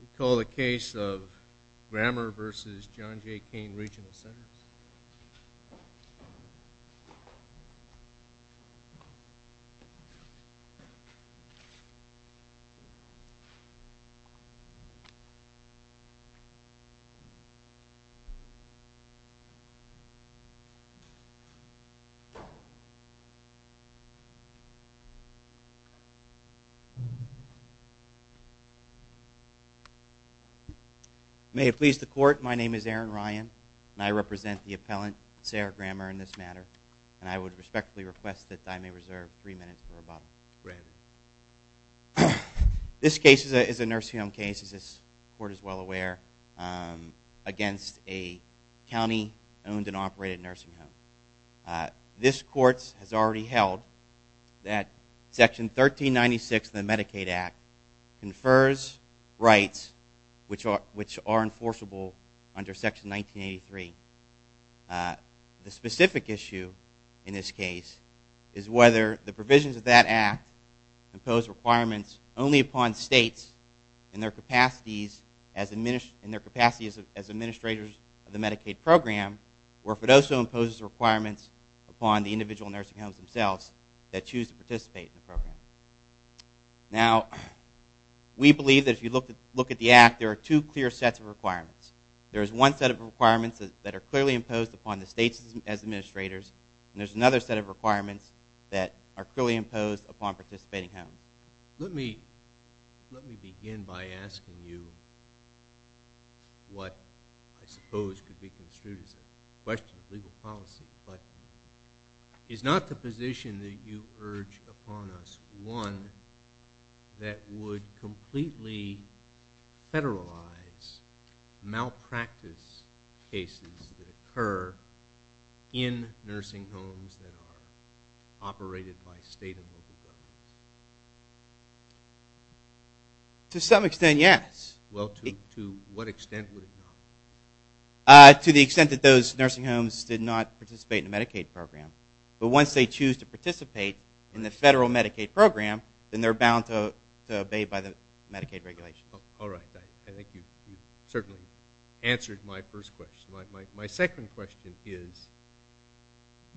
We call the case of Grammer v. John J. Kane Regional Centers. May it please the Court, my name is Aaron Ryan, and I represent the appellant, Sarah Grammer, in this matter, and I would respectfully request that I may reserve 3 minutes for rebuttal. This case is a nursing home case, as this Court is well aware, against a county owned and operated nursing home. This Court has already held that Section 1396 of the Medicaid Act confers rights which are enforceable under Section 1983. The specific issue in this case is whether the provisions of that Act impose requirements only upon states in their capacities as administrators of the Medicaid program, or if it also imposes requirements upon the state. Now, we believe that if you look at the Act, there are two clear sets of requirements. There is one set of requirements that are clearly imposed upon the states as administrators, and there is another set of requirements that are clearly imposed upon participating homes. Let me begin by asking you what I suppose could be construed as a question of legal policy, but is not the position that you urge upon us one that would completely federalize malpractice cases that occur in nursing homes that are operated by state and local governments? To some extent, yes. Well, to what extent would it not? To the extent that those nursing homes did not participate in the Medicaid program. But once they choose to participate in the federal Medicaid program, then they're bound to obey by the Medicaid regulation. All right. I think you've certainly answered my first question. My second question is,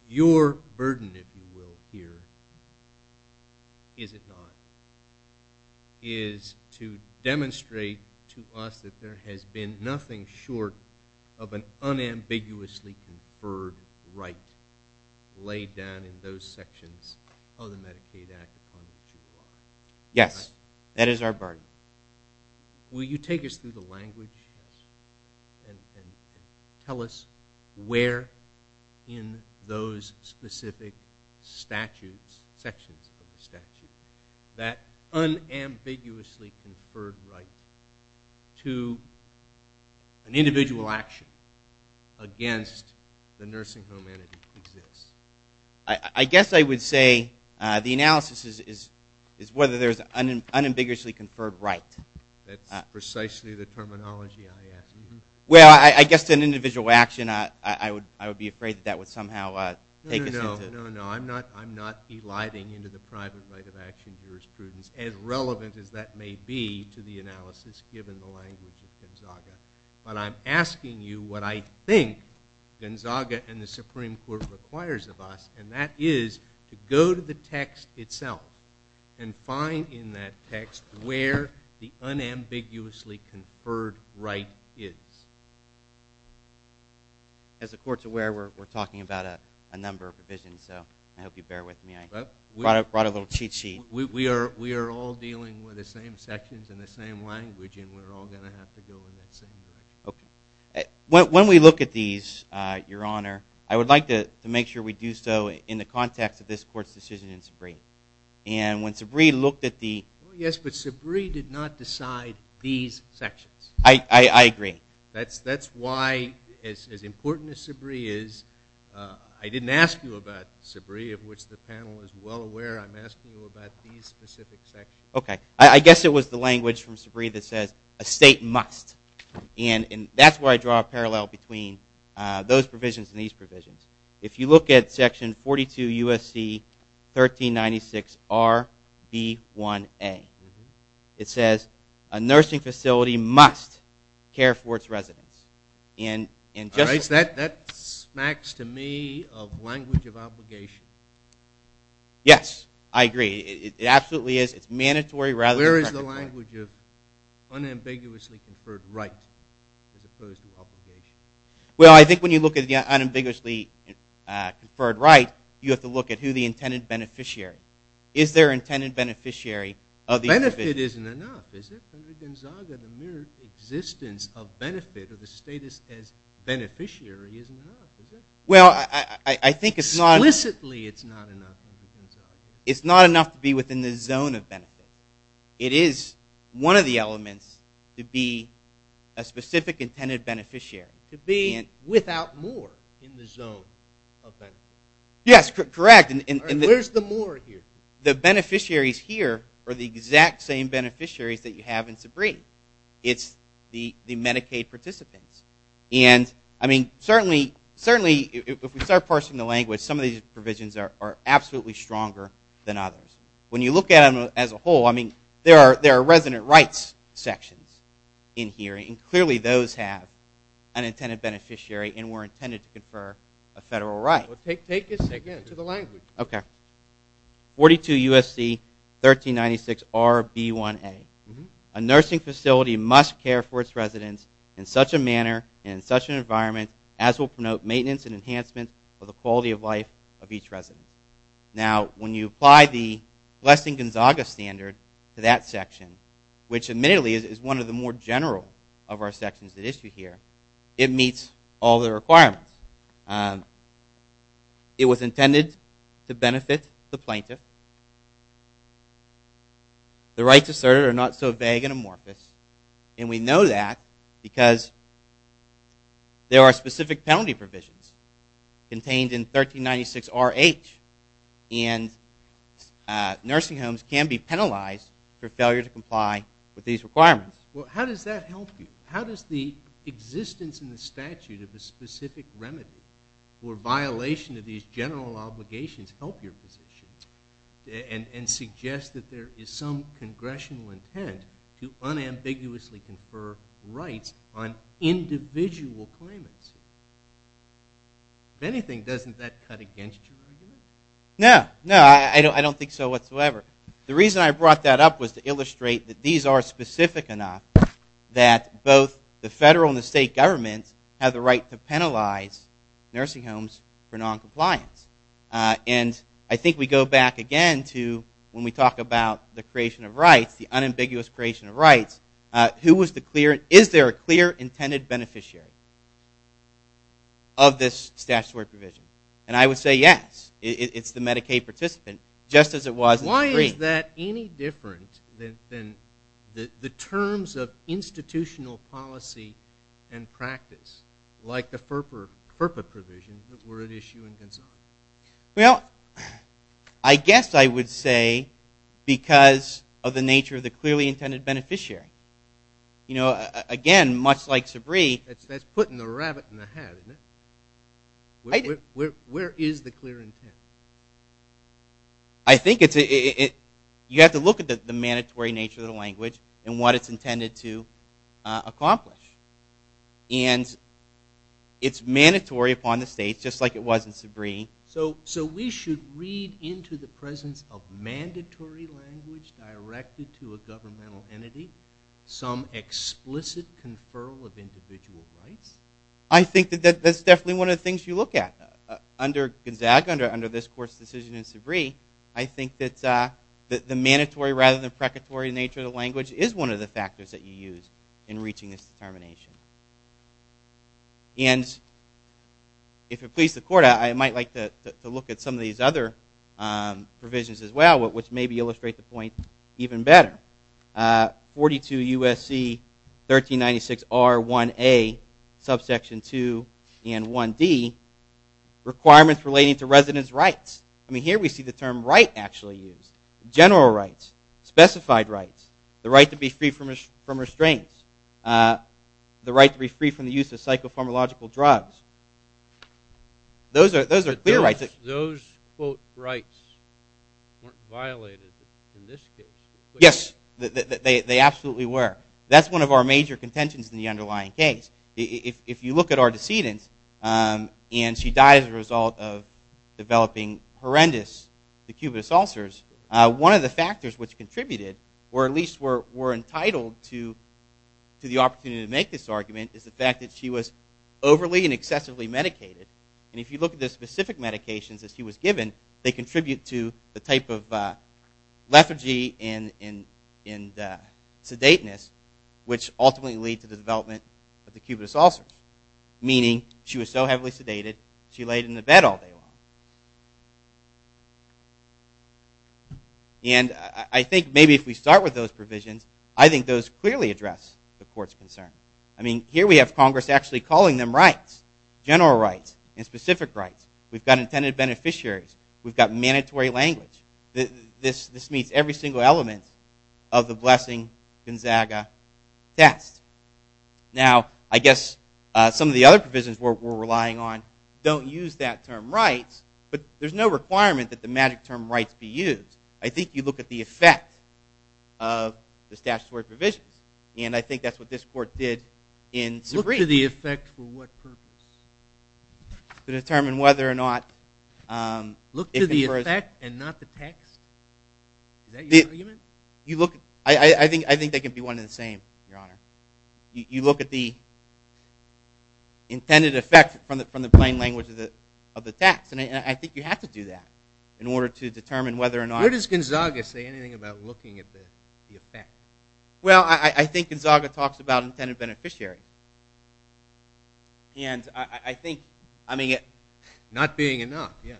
your burden, if you will, here, is it not, is to demonstrate to us that there has been nothing short of an unambiguously conferred right laid down in those sections of the Medicaid Act upon which you are? Yes. That is our burden. Will you take us through the language and tell us where in those specific statutes, sections of the statute, that unambiguously conferred right to participate in the Medicaid program, an individual action against the nursing home entity exists? I guess I would say the analysis is whether there's an unambiguously conferred right. That's precisely the terminology I asked. Well, I guess to an individual action, I would be afraid that that would somehow take us into... No, no, no. I'm not eliding into the private right of action jurisprudence. As relevant as that may be to the analysis given the language of Gonzaga. But I'm asking you what I think Gonzaga and the Supreme Court requires of us, and that is to go to the text itself and find in that text where the unambiguously conferred right is. As the court's aware, we're talking about a number of provisions, so I hope you bear with me. I brought a little cheat sheet. We are all dealing with the same sections and the same language, and we're all going to have to go in that same direction. Okay. When we look at these, Your Honor, I would like to make sure we do so in the context of this court's decision in Sabree. And when Sabree looked at the... Yes, but Sabree did not decide these sections. I agree. That's why, as important as Sabree is, I didn't ask you about Sabree, of which the panel is well aware, I'm asking you about these specific sections. Okay. I guess it was the language from Sabree that says, a state must. And that's where I draw a parallel between those provisions and these provisions. If you look at section 42 U.S.C. 1396RB1A, it says, a nursing facility must care for its residents. All right. That smacks to me of language of obligation. Yes, I agree. It absolutely is. It's mandatory rather than... Where is the language of unambiguously conferred right as opposed to obligation? Well, I think when you look at the unambiguously conferred right, you have to look at who the intended beneficiary is. Is there an intended beneficiary of the... The status as beneficiary isn't enough, is it? Well, I think it's not... Explicitly it's not enough. It's not enough to be within the zone of benefit. It is one of the elements to be a specific intended beneficiary. To be without more in the zone of benefit. Yes, correct. And where's the more here? The beneficiaries here are the exact same beneficiaries that you have in Sabree. It's the Medicaid participants. And, I mean, certainly if we start parsing the language, some of these provisions are absolutely stronger than others. When you look at them as a whole, I mean, there are resident rights sections in here, and clearly those have an intended beneficiary and were intended to confer a federal right. Well, take a second to the language. Okay. 42 U.S.C. 1396RB1A. A nursing facility must care for its residents in such a manner and in such an environment as will promote maintenance and enhancement of the quality of life of each resident. Now, when you apply the Glessing-Gonzaga standard to that section, which admittedly is one of the more general of our sections at issue here, it meets all the requirements. It was intended to benefit the plaintiff. The rights asserted are not so vague and amorphous, and we know that because there are specific penalty provisions contained in 1396RH, and nursing homes can be penalized for failure to comply with these requirements. Well, how does that help you? How does the existence in the statute of a specific remedy for violation of these general obligations help your position and suggest that there is some congressional intent to unambiguously confer rights on individual claimants? If anything, doesn't that cut against your argument? No. No, I don't think so whatsoever. The reason I brought that up was to illustrate that these are specific enough that both the federal and the state governments have the right to penalize nursing homes for noncompliance. And I think we go back again to when we talk about the creation of rights, the unambiguous creation of rights, who was the clear, is there a clear intended beneficiary of this statutory provision? And I would say yes. It's the Medicaid participant, just as it was in Sabree. Why is that any different than the terms of institutional policy and practice, like the FERPA provisions that were at issue in Gonzaga? Well, I guess I would say because of the nature of the clearly intended beneficiary. You know, again, much like Sabree. That's putting the rabbit in the hat, isn't it? Where is the clear intent? I think you have to look at the mandatory nature of the language and what it's intended to accomplish. And it's mandatory upon the states, just like it was in Sabree. So we should read into the presence of mandatory language directed to a governmental entity some explicit conferral of individual rights? I think that that's definitely one of the things you look at. Under Gonzaga, under this court's decision in Sabree, I think that the mandatory rather than precatory nature of the language is one of the factors that you use in reaching this determination. And if it pleases the court, I might like to look at some of these other provisions as well, which maybe illustrate the point even better. 42 U.S.C. 1396R1A subsection 2 and 1D, requirements relating to residence rights. I mean, here we see the term right actually used. General rights, specified rights, the right to be free from restraints, the right to be free from the use of psychopharmacological drugs. Those are clear rights. Those quote rights weren't violated in this case? Yes, they absolutely were. That's one of our major contentions in the underlying case. If you look at our decedent, and she died as a result of developing horrendous acubitus ulcers, one of the factors which contributed, or at least were entitled to the opportunity to make this argument, is the fact that she was overly and excessively medicated. And if you look at the specific medications that she was given, they contribute to the type of lethargy and sedateness, which ultimately lead to the development of the acubitus ulcers. Meaning, she was so heavily sedated, she laid in the bed all day long. And I think maybe if we start with those provisions, I think those clearly address the court's concern. I mean, here we have Congress actually calling them rights. General rights and specific rights. We've got intended beneficiaries. We've got mandatory language. This meets every single element of the Blessing-Gonzaga test. Now, I guess some of the other provisions we're relying on don't use that term rights, but there's no requirement that the magic term rights be used. I think you look at the effect of the statutory provisions. And I think that's what this court did in Zabriskie. Look to the effect for what purpose? To determine whether or not... Look to the effect and not the text? Is that your argument? I think they can be one and the same, Your Honor. You look at the intended effect from the plain language of the text. And I think you have to do that in order to determine whether or not... Where does Gonzaga say anything about looking at the effect? Well, I think Gonzaga talks about intended beneficiary. And I think, I mean... Not being enough, yes.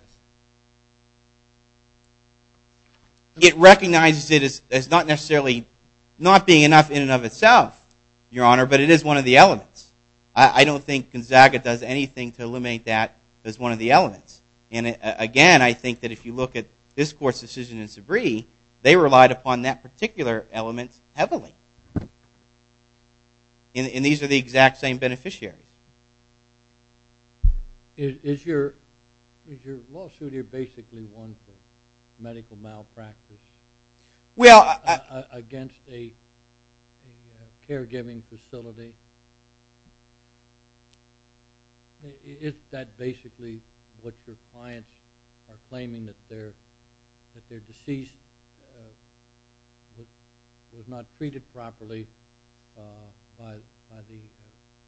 It recognizes it as not necessarily not being enough in and of itself, Your Honor, but it is one of the elements. I don't think Gonzaga does anything to eliminate that as one of the elements. And, again, I think that if you look at this court's decision in Zabriskie, they relied upon that particular element heavily. And these are the exact same beneficiaries. Is your lawsuit here basically one for medical malpractice against a caregiving facility? Is that basically what your clients are claiming, that their deceased was not treated properly by the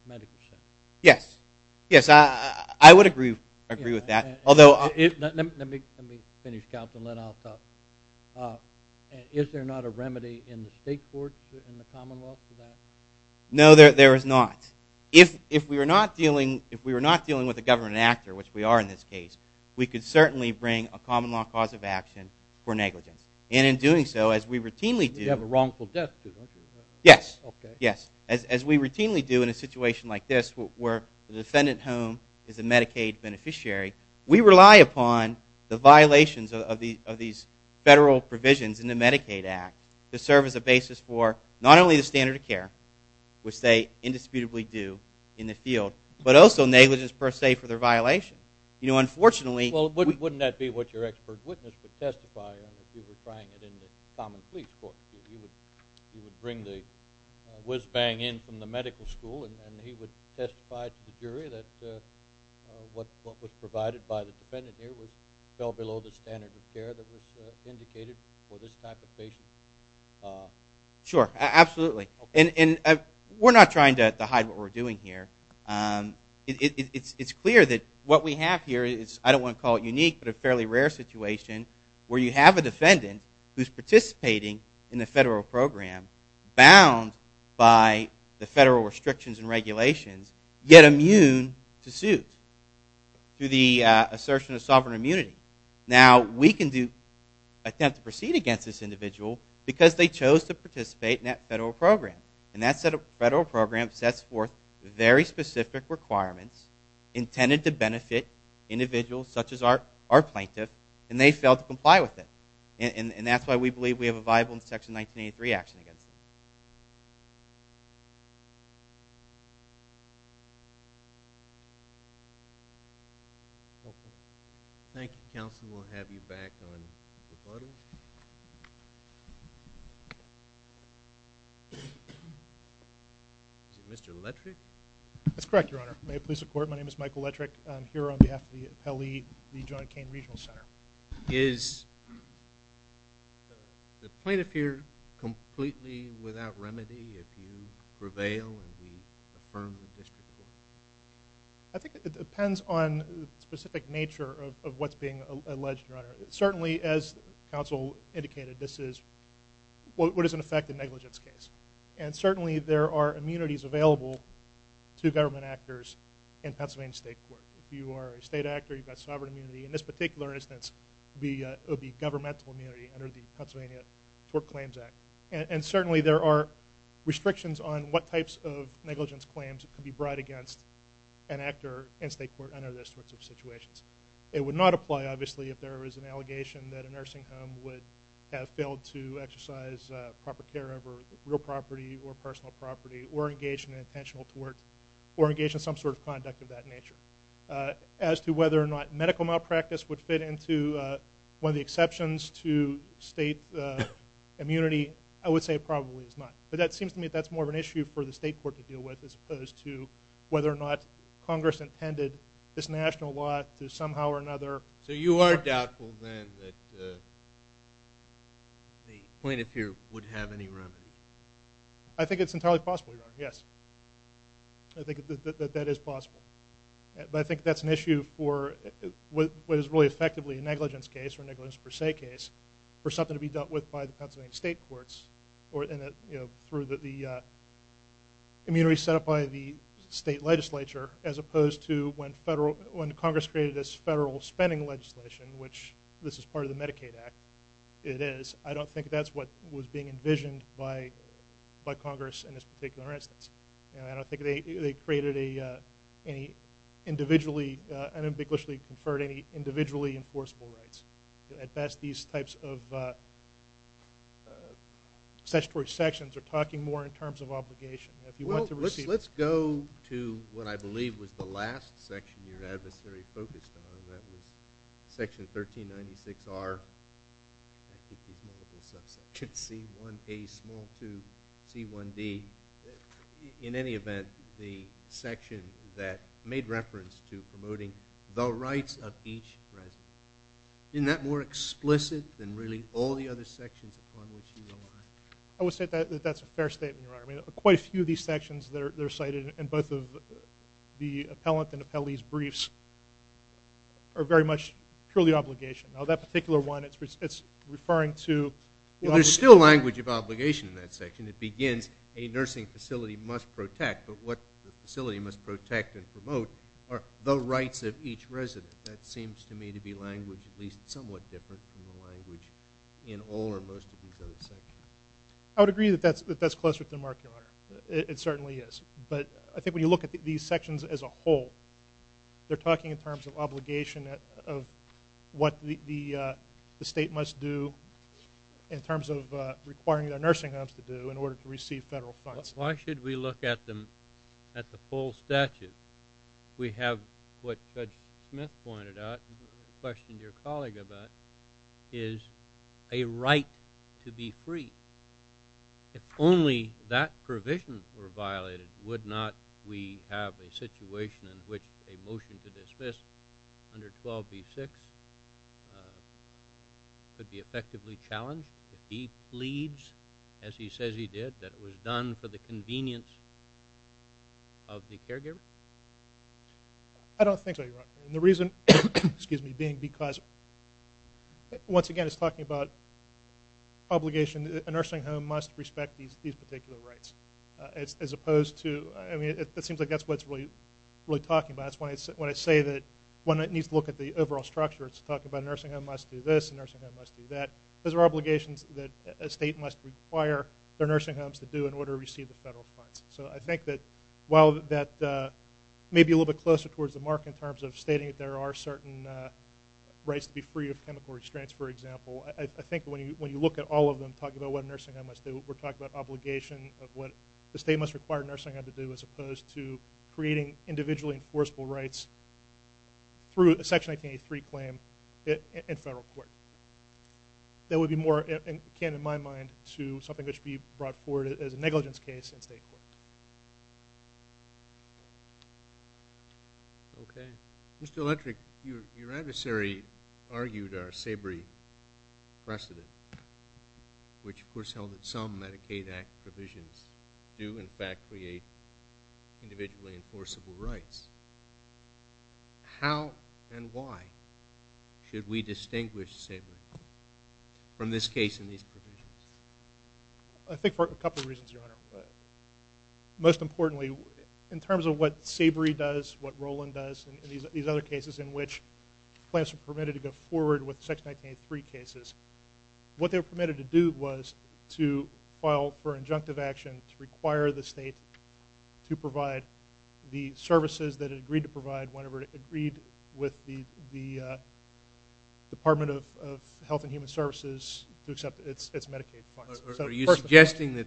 medical center? Yes. Yes, I would agree with that. Although... Let me finish, Counsel, and then I'll talk. Is there not a remedy in the state courts in the Commonwealth for that? No, there is not. If we were not dealing with a government actor, which we are in this case, we could certainly bring a common law cause of action for negligence. And in doing so, as we routinely do... You have a wrongful death, too, don't you? Yes. As we routinely do in a situation like this, where the defendant home is a Medicaid beneficiary, we rely upon the violations of these federal provisions in the Medicaid Act to serve as a basis for not only the standard of care, which they indisputably do in the field, but also negligence per se for their violation. You know, unfortunately... Well, wouldn't that be what your expert witness would testify on if you were trying it in the common police court? He would bring the whiz-bang in from the medical school, and he would testify to the jury that what was provided by the defendant here fell below the standard of care that was indicated for this type of patient? Sure, absolutely. And we're not trying to hide what we're doing here. It's clear that what we have here is, I don't want to call it unique, but a fairly rare situation where you have a defendant who's participating in the federal program bound by the federal restrictions and regulations, yet immune to suit. Through the assertion of sovereign immunity. Now, we can attempt to proceed against this individual because they chose to participate in that federal program. And that federal program sets forth very specific requirements intended to benefit individuals such as our plaintiff, and they failed to comply with it. And that's why we believe we have a viable Section 1983 action against them. Thank you. Thank you, counsel. We'll have you back on rebuttal. Is it Mr. Lettrick? That's correct, Your Honor. May it please the Court, my name is Michael Lettrick. I'm here on behalf of the appellee, the John McCain Regional Center. Is the plaintiff here completely without remedy if you prevail and we affirm the district court? I think it depends on the specific nature of what's being alleged, Your Honor. Certainly, as counsel indicated, this is what is in effect in negligence case. And certainly, there are immunities available to government actors in Pennsylvania State Court. If you are a state actor, you've got sovereign immunity. In this particular instance, it would be governmental immunity under the Pennsylvania Tort Claims Act. And certainly, there are restrictions on what types of negligence claims could be brought against an actor in state court under those sorts of situations. It would not apply, obviously, if there was an allegation that a nursing home would have failed to exercise proper care over real property or personal property or engage in intentional tort or engage in some sort of conduct of that nature. As to whether or not medical malpractice would fit into one of the exceptions to state immunity, I would say it probably is not. But that seems to me that's more of an issue for the state court to deal with as opposed to whether or not Congress intended this national lot to somehow or another. So you are doubtful, then, that the plaintiff here would have any remedy? I think it's entirely possible, Your Honor, yes. I think that that is possible. But I think that's an issue for what is really effectively a negligence case or negligence per se case for something to be dealt with by the Pennsylvania State Courts or through the immunities set up by the state legislature as opposed to when Congress created this federal spending legislation, which this is part of the Medicaid Act, it is. I don't think that's what was being envisioned by Congress in this particular instance. I don't think they created any individually, unambiguously conferred any individually enforceable rights. At best, these types of statutory sections are talking more in terms of obligation. Well, let's go to what I believe was the last section your adversary focused on. That was Section 1396R, I think there's multiple subsections, C1A, small 2, C1D. In any event, the section that made reference to promoting the rights of each resident. Isn't that more explicit than really all the other sections upon which you rely? I would say that that's a fair statement, Your Honor. Quite a few of these sections that are cited in both of the appellant and appellee's briefs are very much purely obligation. Now, that particular one, it's referring to the obligation. Well, there's still language of obligation in that section. It begins, a nursing facility must protect. But what the facility must protect and promote are the rights of each resident. That seems to me to be language at least somewhat different from the language in all or most of these other sections. I would agree that that's closer to the mark, Your Honor. It certainly is. But I think when you look at these sections as a whole, they're talking in terms of obligation of what the state must do in terms of requiring their nursing homes to do in order to receive federal funds. Why should we look at the full statute? We have what Judge Smith pointed out, questioned your colleague about, is a right to be free. If only that provision were violated, would not we have a situation in which a motion to dismiss under 12b-6 could be effectively challenged if he pleads, as he says he did, that it was done for the convenience of the caregiver? I don't think so, Your Honor. The reason being because, once again, it's talking about obligation. A nursing home must respect these particular rights as opposed to, I mean, it seems like that's what it's really talking about. When I say that one needs to look at the overall structure, it's talking about a nursing home must do this, a nursing home must do that. Those are obligations that a state must require their nursing homes to do in order to receive the federal funds. So I think that while that may be a little bit closer towards the mark in terms of stating that there are certain rights to be free of chemical restraints, for example, I think when you look at all of them talking about what a nursing home must do, we're talking about obligation of what the state must require a nursing home to do as opposed to creating individually enforceable rights through a Section 1983 claim in federal court. That would be more akin, in my mind, to something that should be brought forward as a negligence case in state court. Okay. Mr. Electric, your adversary argued our SABRE precedent, individually enforceable rights. How and why should we distinguish SABRE from this case in these provisions? I think for a couple of reasons, Your Honor. Most importantly, in terms of what SABRE does, what Roland does, and these other cases in which claims were permitted to go forward with Section 1983 cases, what they were permitted to do was to file for injunctive action to require the state to provide the services that it agreed to provide whenever it agreed with the Department of Health and Human Services to accept its Medicaid funds. Are you suggesting that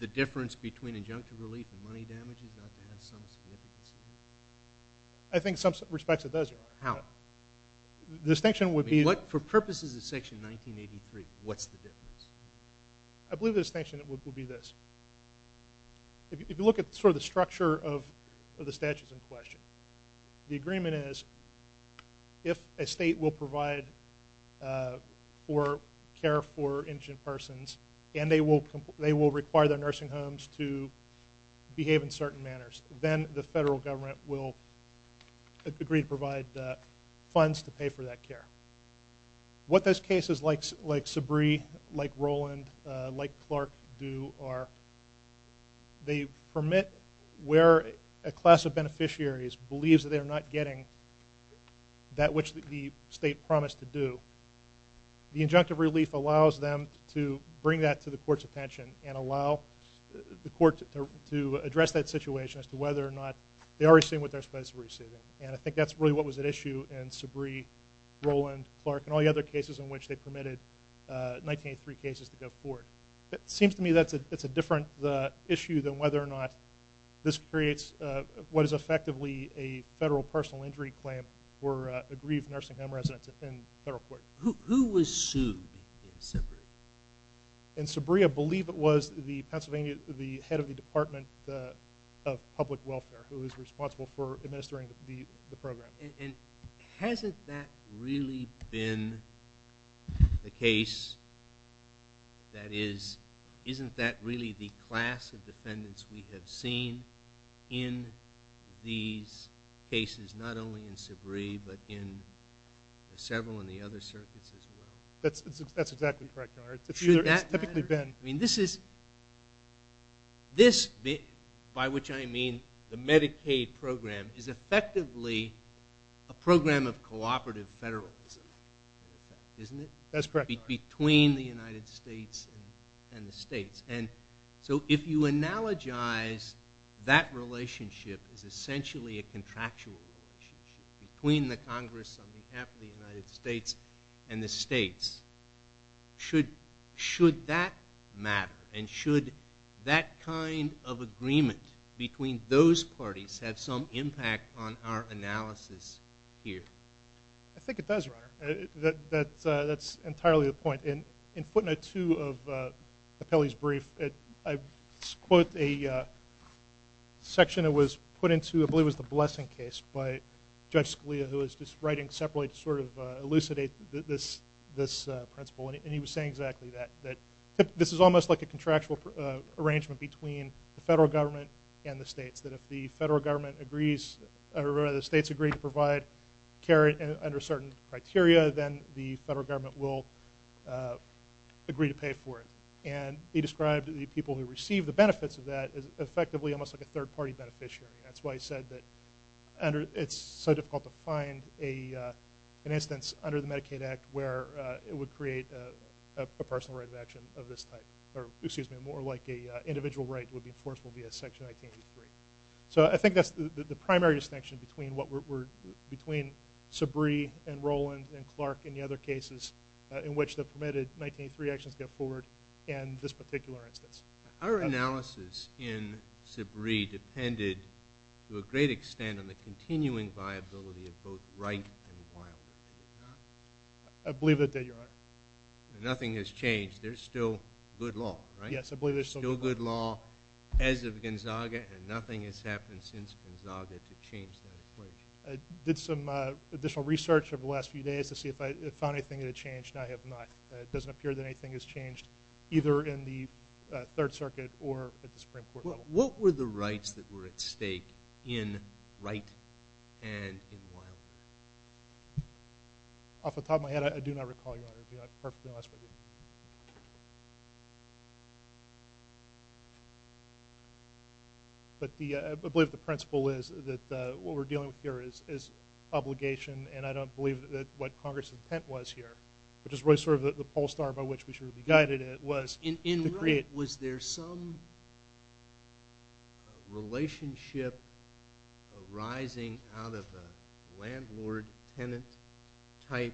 the difference between injunctive relief and money damage is about to have some significance? I think in some respects it does, Your Honor. How? The distinction would be… I mean, for purposes of Section 1983, what's the difference? I believe the distinction would be this. If you look at sort of the structure of the statutes in question, the agreement is if a state will provide care for injured persons and they will require their nursing homes to behave in certain manners, then the federal government will agree to provide funds to pay for that care. What those cases like SABRE, like Roland, like Clark do are they permit where a class of beneficiaries believes that they are not getting that which the state promised to do. The injunctive relief allows them to bring that to the court's attention and allow the court to address that situation as to whether or not they are receiving what they're supposed to be receiving. And I think that's really what was at issue in SABRE, Roland, Clark, and all the other cases in which they permitted 1983 cases to go forward. It seems to me that's a different issue than whether or not this creates what is effectively a federal personal injury claim for aggrieved nursing home residents in federal court. Who was sued in SABRE? In SABRE, I believe it was the head of the Department of Public Welfare who was responsible for administering the program. And hasn't that really been the case that is, isn't that really the class of defendants we have seen in these cases, not only in SABRE, but in several in the other circuits as well? That's exactly correct. This, by which I mean the Medicaid program, is effectively a program of cooperative federalism, isn't it? That's correct. Between the United States and the states. And so if you analogize that relationship as essentially a contractual relationship between the Congress on behalf of the United States and the states, should that matter? And should that kind of agreement between those parties have some impact on our analysis here? I think it does, Your Honor. That's entirely the point. In footnote two of the Pele's brief, I quote a section that was put into, I believe it was the Blessing case, by Judge Scalia who was just writing separately to sort of elucidate this principle. And he was saying exactly that, that this is almost like a contractual arrangement between the federal government and the states, that if the federal government agrees, or the states agree to provide care under certain criteria, then the federal government will agree to pay for it. And he described the people who receive the benefits of that as effectively almost like a third-party beneficiary. That's why he said that it's so difficult to find an instance under the Medicaid Act where it would create a personal right of action of this type, or excuse me, more like an individual right would be enforceable via Section 1983. So I think that's the primary distinction between Sabree and Roland and Clark and the other cases in which the permitted 1983 actions go forward and this particular instance. Our analysis in Sabree depended to a great extent on the continuing viability of both right and wild. I believe that you're right. Nothing has changed. There's still good law, right? Yes, I believe there's still good law. Still good law as of Gonzaga, and nothing has happened since Gonzaga to change that equation. I did some additional research over the last few days to see if I found anything that had changed, and I have not. It doesn't appear that anything has changed, either in the Third Circuit or at the Supreme Court level. What were the rights that were at stake in right and in wild? Off the top of my head, I do not recall, Your Honor. I'll be perfectly honest with you. But I believe the principle is that what we're dealing with here is obligation, and I don't believe what Congress' intent was here, which is really sort of the pole star by which we should be guided at, was to create... In right, was there some relationship arising out of a landlord-tenant type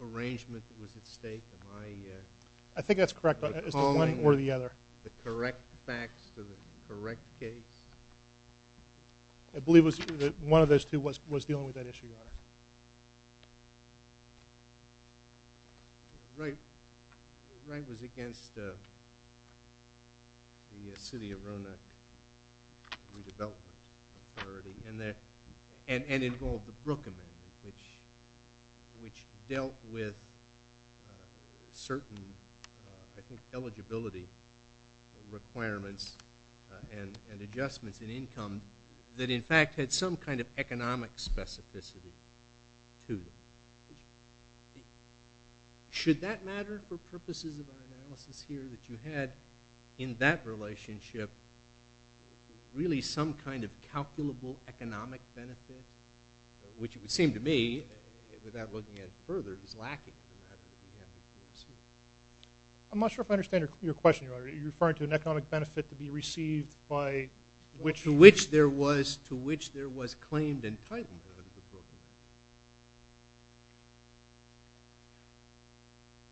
arrangement that was at stake? Am I recalling the correct facts to the correct case? I believe one of those two was dealing with that issue, Your Honor. Right was against the city of Roanoke redevelopment authority and involved the Brooke Amendment, which dealt with certain, I think, that, in fact, had some kind of economic specificity to them. Should that matter for purposes of our analysis here that you had in that relationship really some kind of calculable economic benefit, which it would seem to me, without looking at it further, is lacking in that regard. I'm not sure if I understand your question, Your Honor. You're referring to an economic benefit to be received by which... To which there was claimed entitlement of the Brooke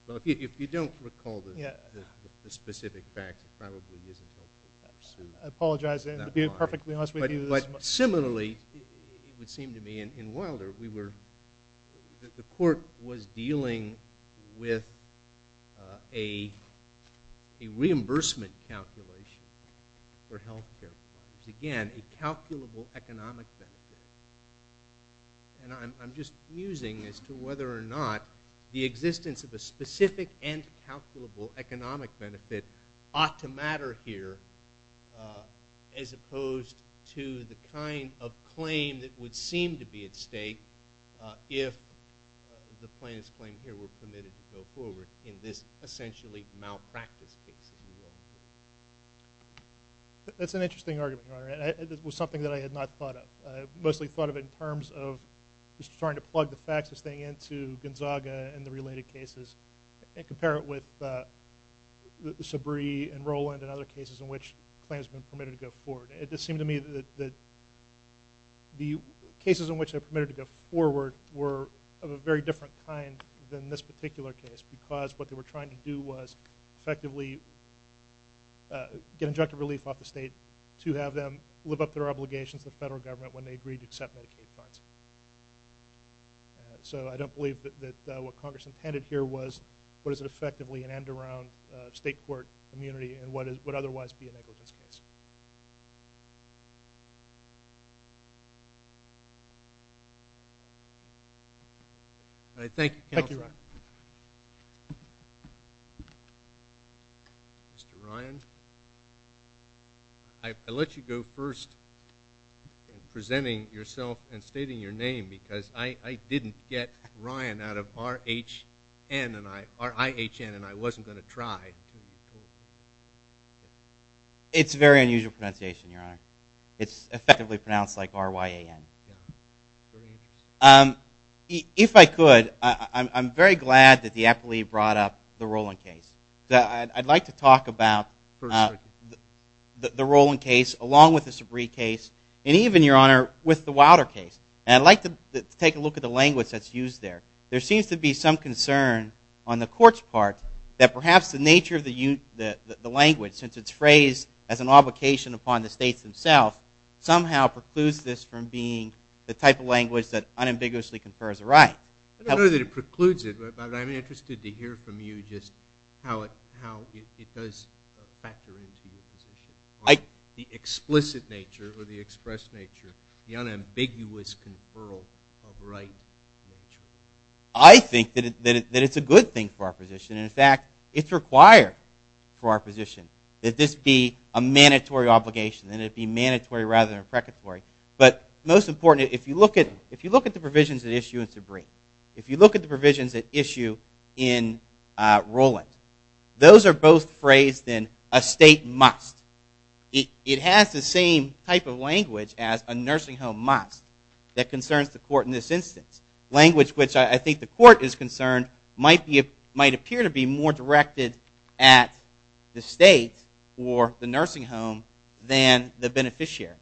Amendment. If you don't recall the specific facts, it probably isn't helpful perhaps. I apologize. To be perfectly honest with you... But similarly, it would seem to me, in Wilder, the court was dealing with a reimbursement calculation for health care providers. Again, a calculable economic benefit. And I'm just musing as to whether or not the existence of a specific and calculable economic benefit ought to matter here as opposed to the kind of claim that would seem to be at stake if the plaintiff's claim here were permitted to go forward in this essentially malpractice case. That's an interesting argument, Your Honor. It was something that I had not thought of. I mostly thought of it in terms of just trying to plug the facts of this thing into Gonzaga and the related cases and compare it with Sabree and Rowland and other cases in which claims have been permitted to go forward. It just seemed to me that the cases in which they were permitted to go forward were of a very different kind than this particular case because what they were trying to do was effectively get injunctive relief off the state to have them live up to their obligations to the federal government when they agreed to accept Medicaid funds. So I don't believe that what Congress intended here was what is effectively an end around state court immunity and what would otherwise be a negligence case. I thank you, Counselor. Thank you, Ryan. Mr. Ryan? I let you go first in presenting yourself and stating your name because I didn't get Ryan out of R-I-H-N and I wasn't going to try until you told me. It's a very unusual pronunciation, Your Honor. It's effectively pronounced like R-Y-A-N. If I could, I'm very glad that the appellee brought up the Rowland case. I'd like to talk about the Rowland case along with the Sabree case and even, Your Honor, with the Wilder case. And I'd like to take a look at the language that's used there. There seems to be some concern on the court's part that perhaps the nature of the language, since it's phrased as an obligation upon the states themselves, somehow precludes this from being the type of language that unambiguously confers a right. I don't know that it precludes it, but I'm interested to hear from you just how it does factor into your position on the explicit nature or the expressed nature, the unambiguous conferral of right nature. I think that it's a good thing for our position. In fact, it's required for our position that this be a mandatory obligation, that it be mandatory rather than a precatory. But most important, if you look at the provisions at issue in Sabree, if you look at the provisions at issue in Rowland, those are both phrased in a state must. It has the same type of language as a nursing home must that concerns the court in this instance, language which I think the court is concerned might appear to be more directed at the state or the nursing home than the beneficiary.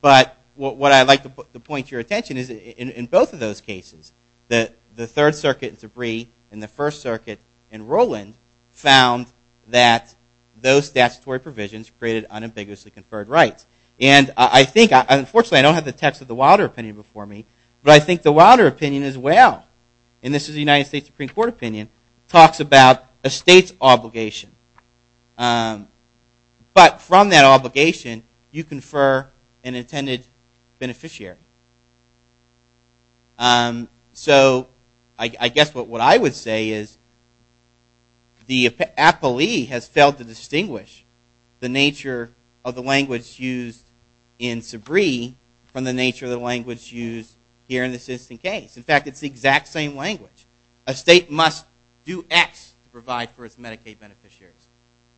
But what I'd like to point to your attention is in both of those cases, the Third Circuit in Sabree and the First Circuit in Rowland found that those statutory provisions created unambiguously conferred rights. Unfortunately, I don't have the text of the Wilder opinion before me, but I think the Wilder opinion as well, and this is the United States Supreme Court opinion, talks about a state's obligation. But from that obligation, you confer an intended beneficiary. So I guess what I would say is the appellee has failed to distinguish the nature of the language used in Sabree from the nature of the language used here in this instance case. In fact, it's the exact same language. A state must do X to provide for its Medicaid beneficiaries.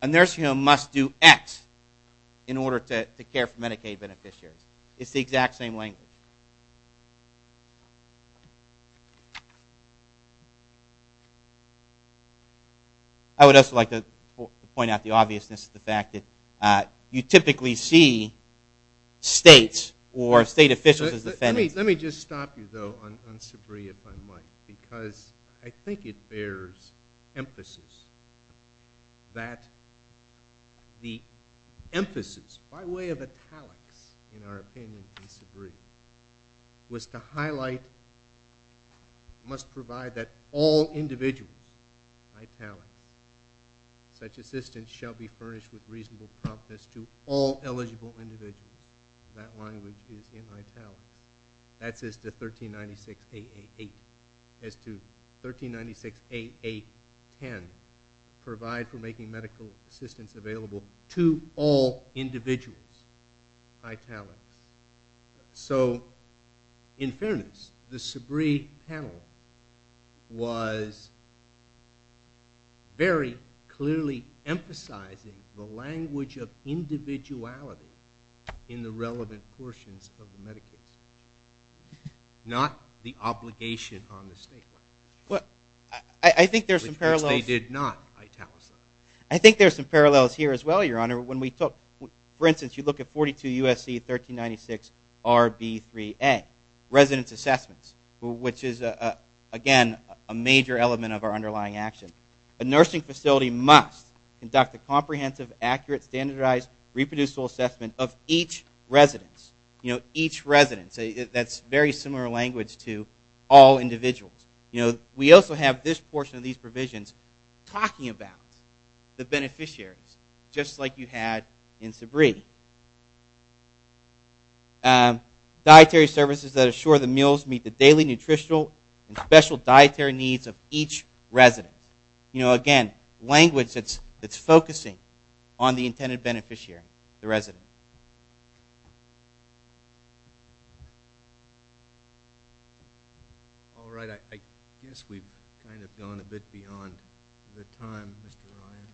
A nursing home must do X in order to care for Medicaid beneficiaries. It's the exact same language. I would also like to point out the obviousness of the fact that you typically see states or state officials as defendants. Let me just stop you, though, on Sabree, if I might, because I think it bears emphasis that the emphasis, by way of italics, in our opinion in Sabree, was to highlight, must provide that all individuals, by italics, such assistance shall be furnished with reasonable promptness to all eligible individuals. That language is in italics. That's as to 1396.888. As to 1396.8810, provide for making medical assistance available to all individuals, italics. So, in fairness, the Sabree panel was very clearly emphasizing the language of individuality in the relevant portions of the Medicaid system, not the obligation on the state. Well, I think there's some parallels. Which they did not italicize. I think there's some parallels here as well, Your Honor. For instance, you look at 42 USC 1396 RB3A, residence assessments, which is, again, a major element of our underlying action. A nursing facility must conduct a comprehensive, accurate, standardized, reproducible assessment of each residence. Each residence. That's very similar language to all individuals. We also have this portion of these provisions talking about the beneficiaries, just like you had in Sabree. Dietary services that assure the meals meet the daily nutritional and special dietary needs of each residence. You know, again, language that's focusing on the intended beneficiary, the resident. All right. I guess we've kind of gone a bit beyond the time, Mr. Ryan.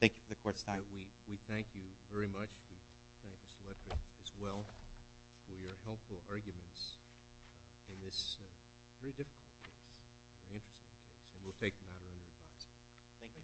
Thank you for the Court's time. We thank you very much. We thank Mr. Leffert as well for your helpful arguments in this very difficult case, very interesting case. And we'll take the matter under advice. Thank you. Thank you.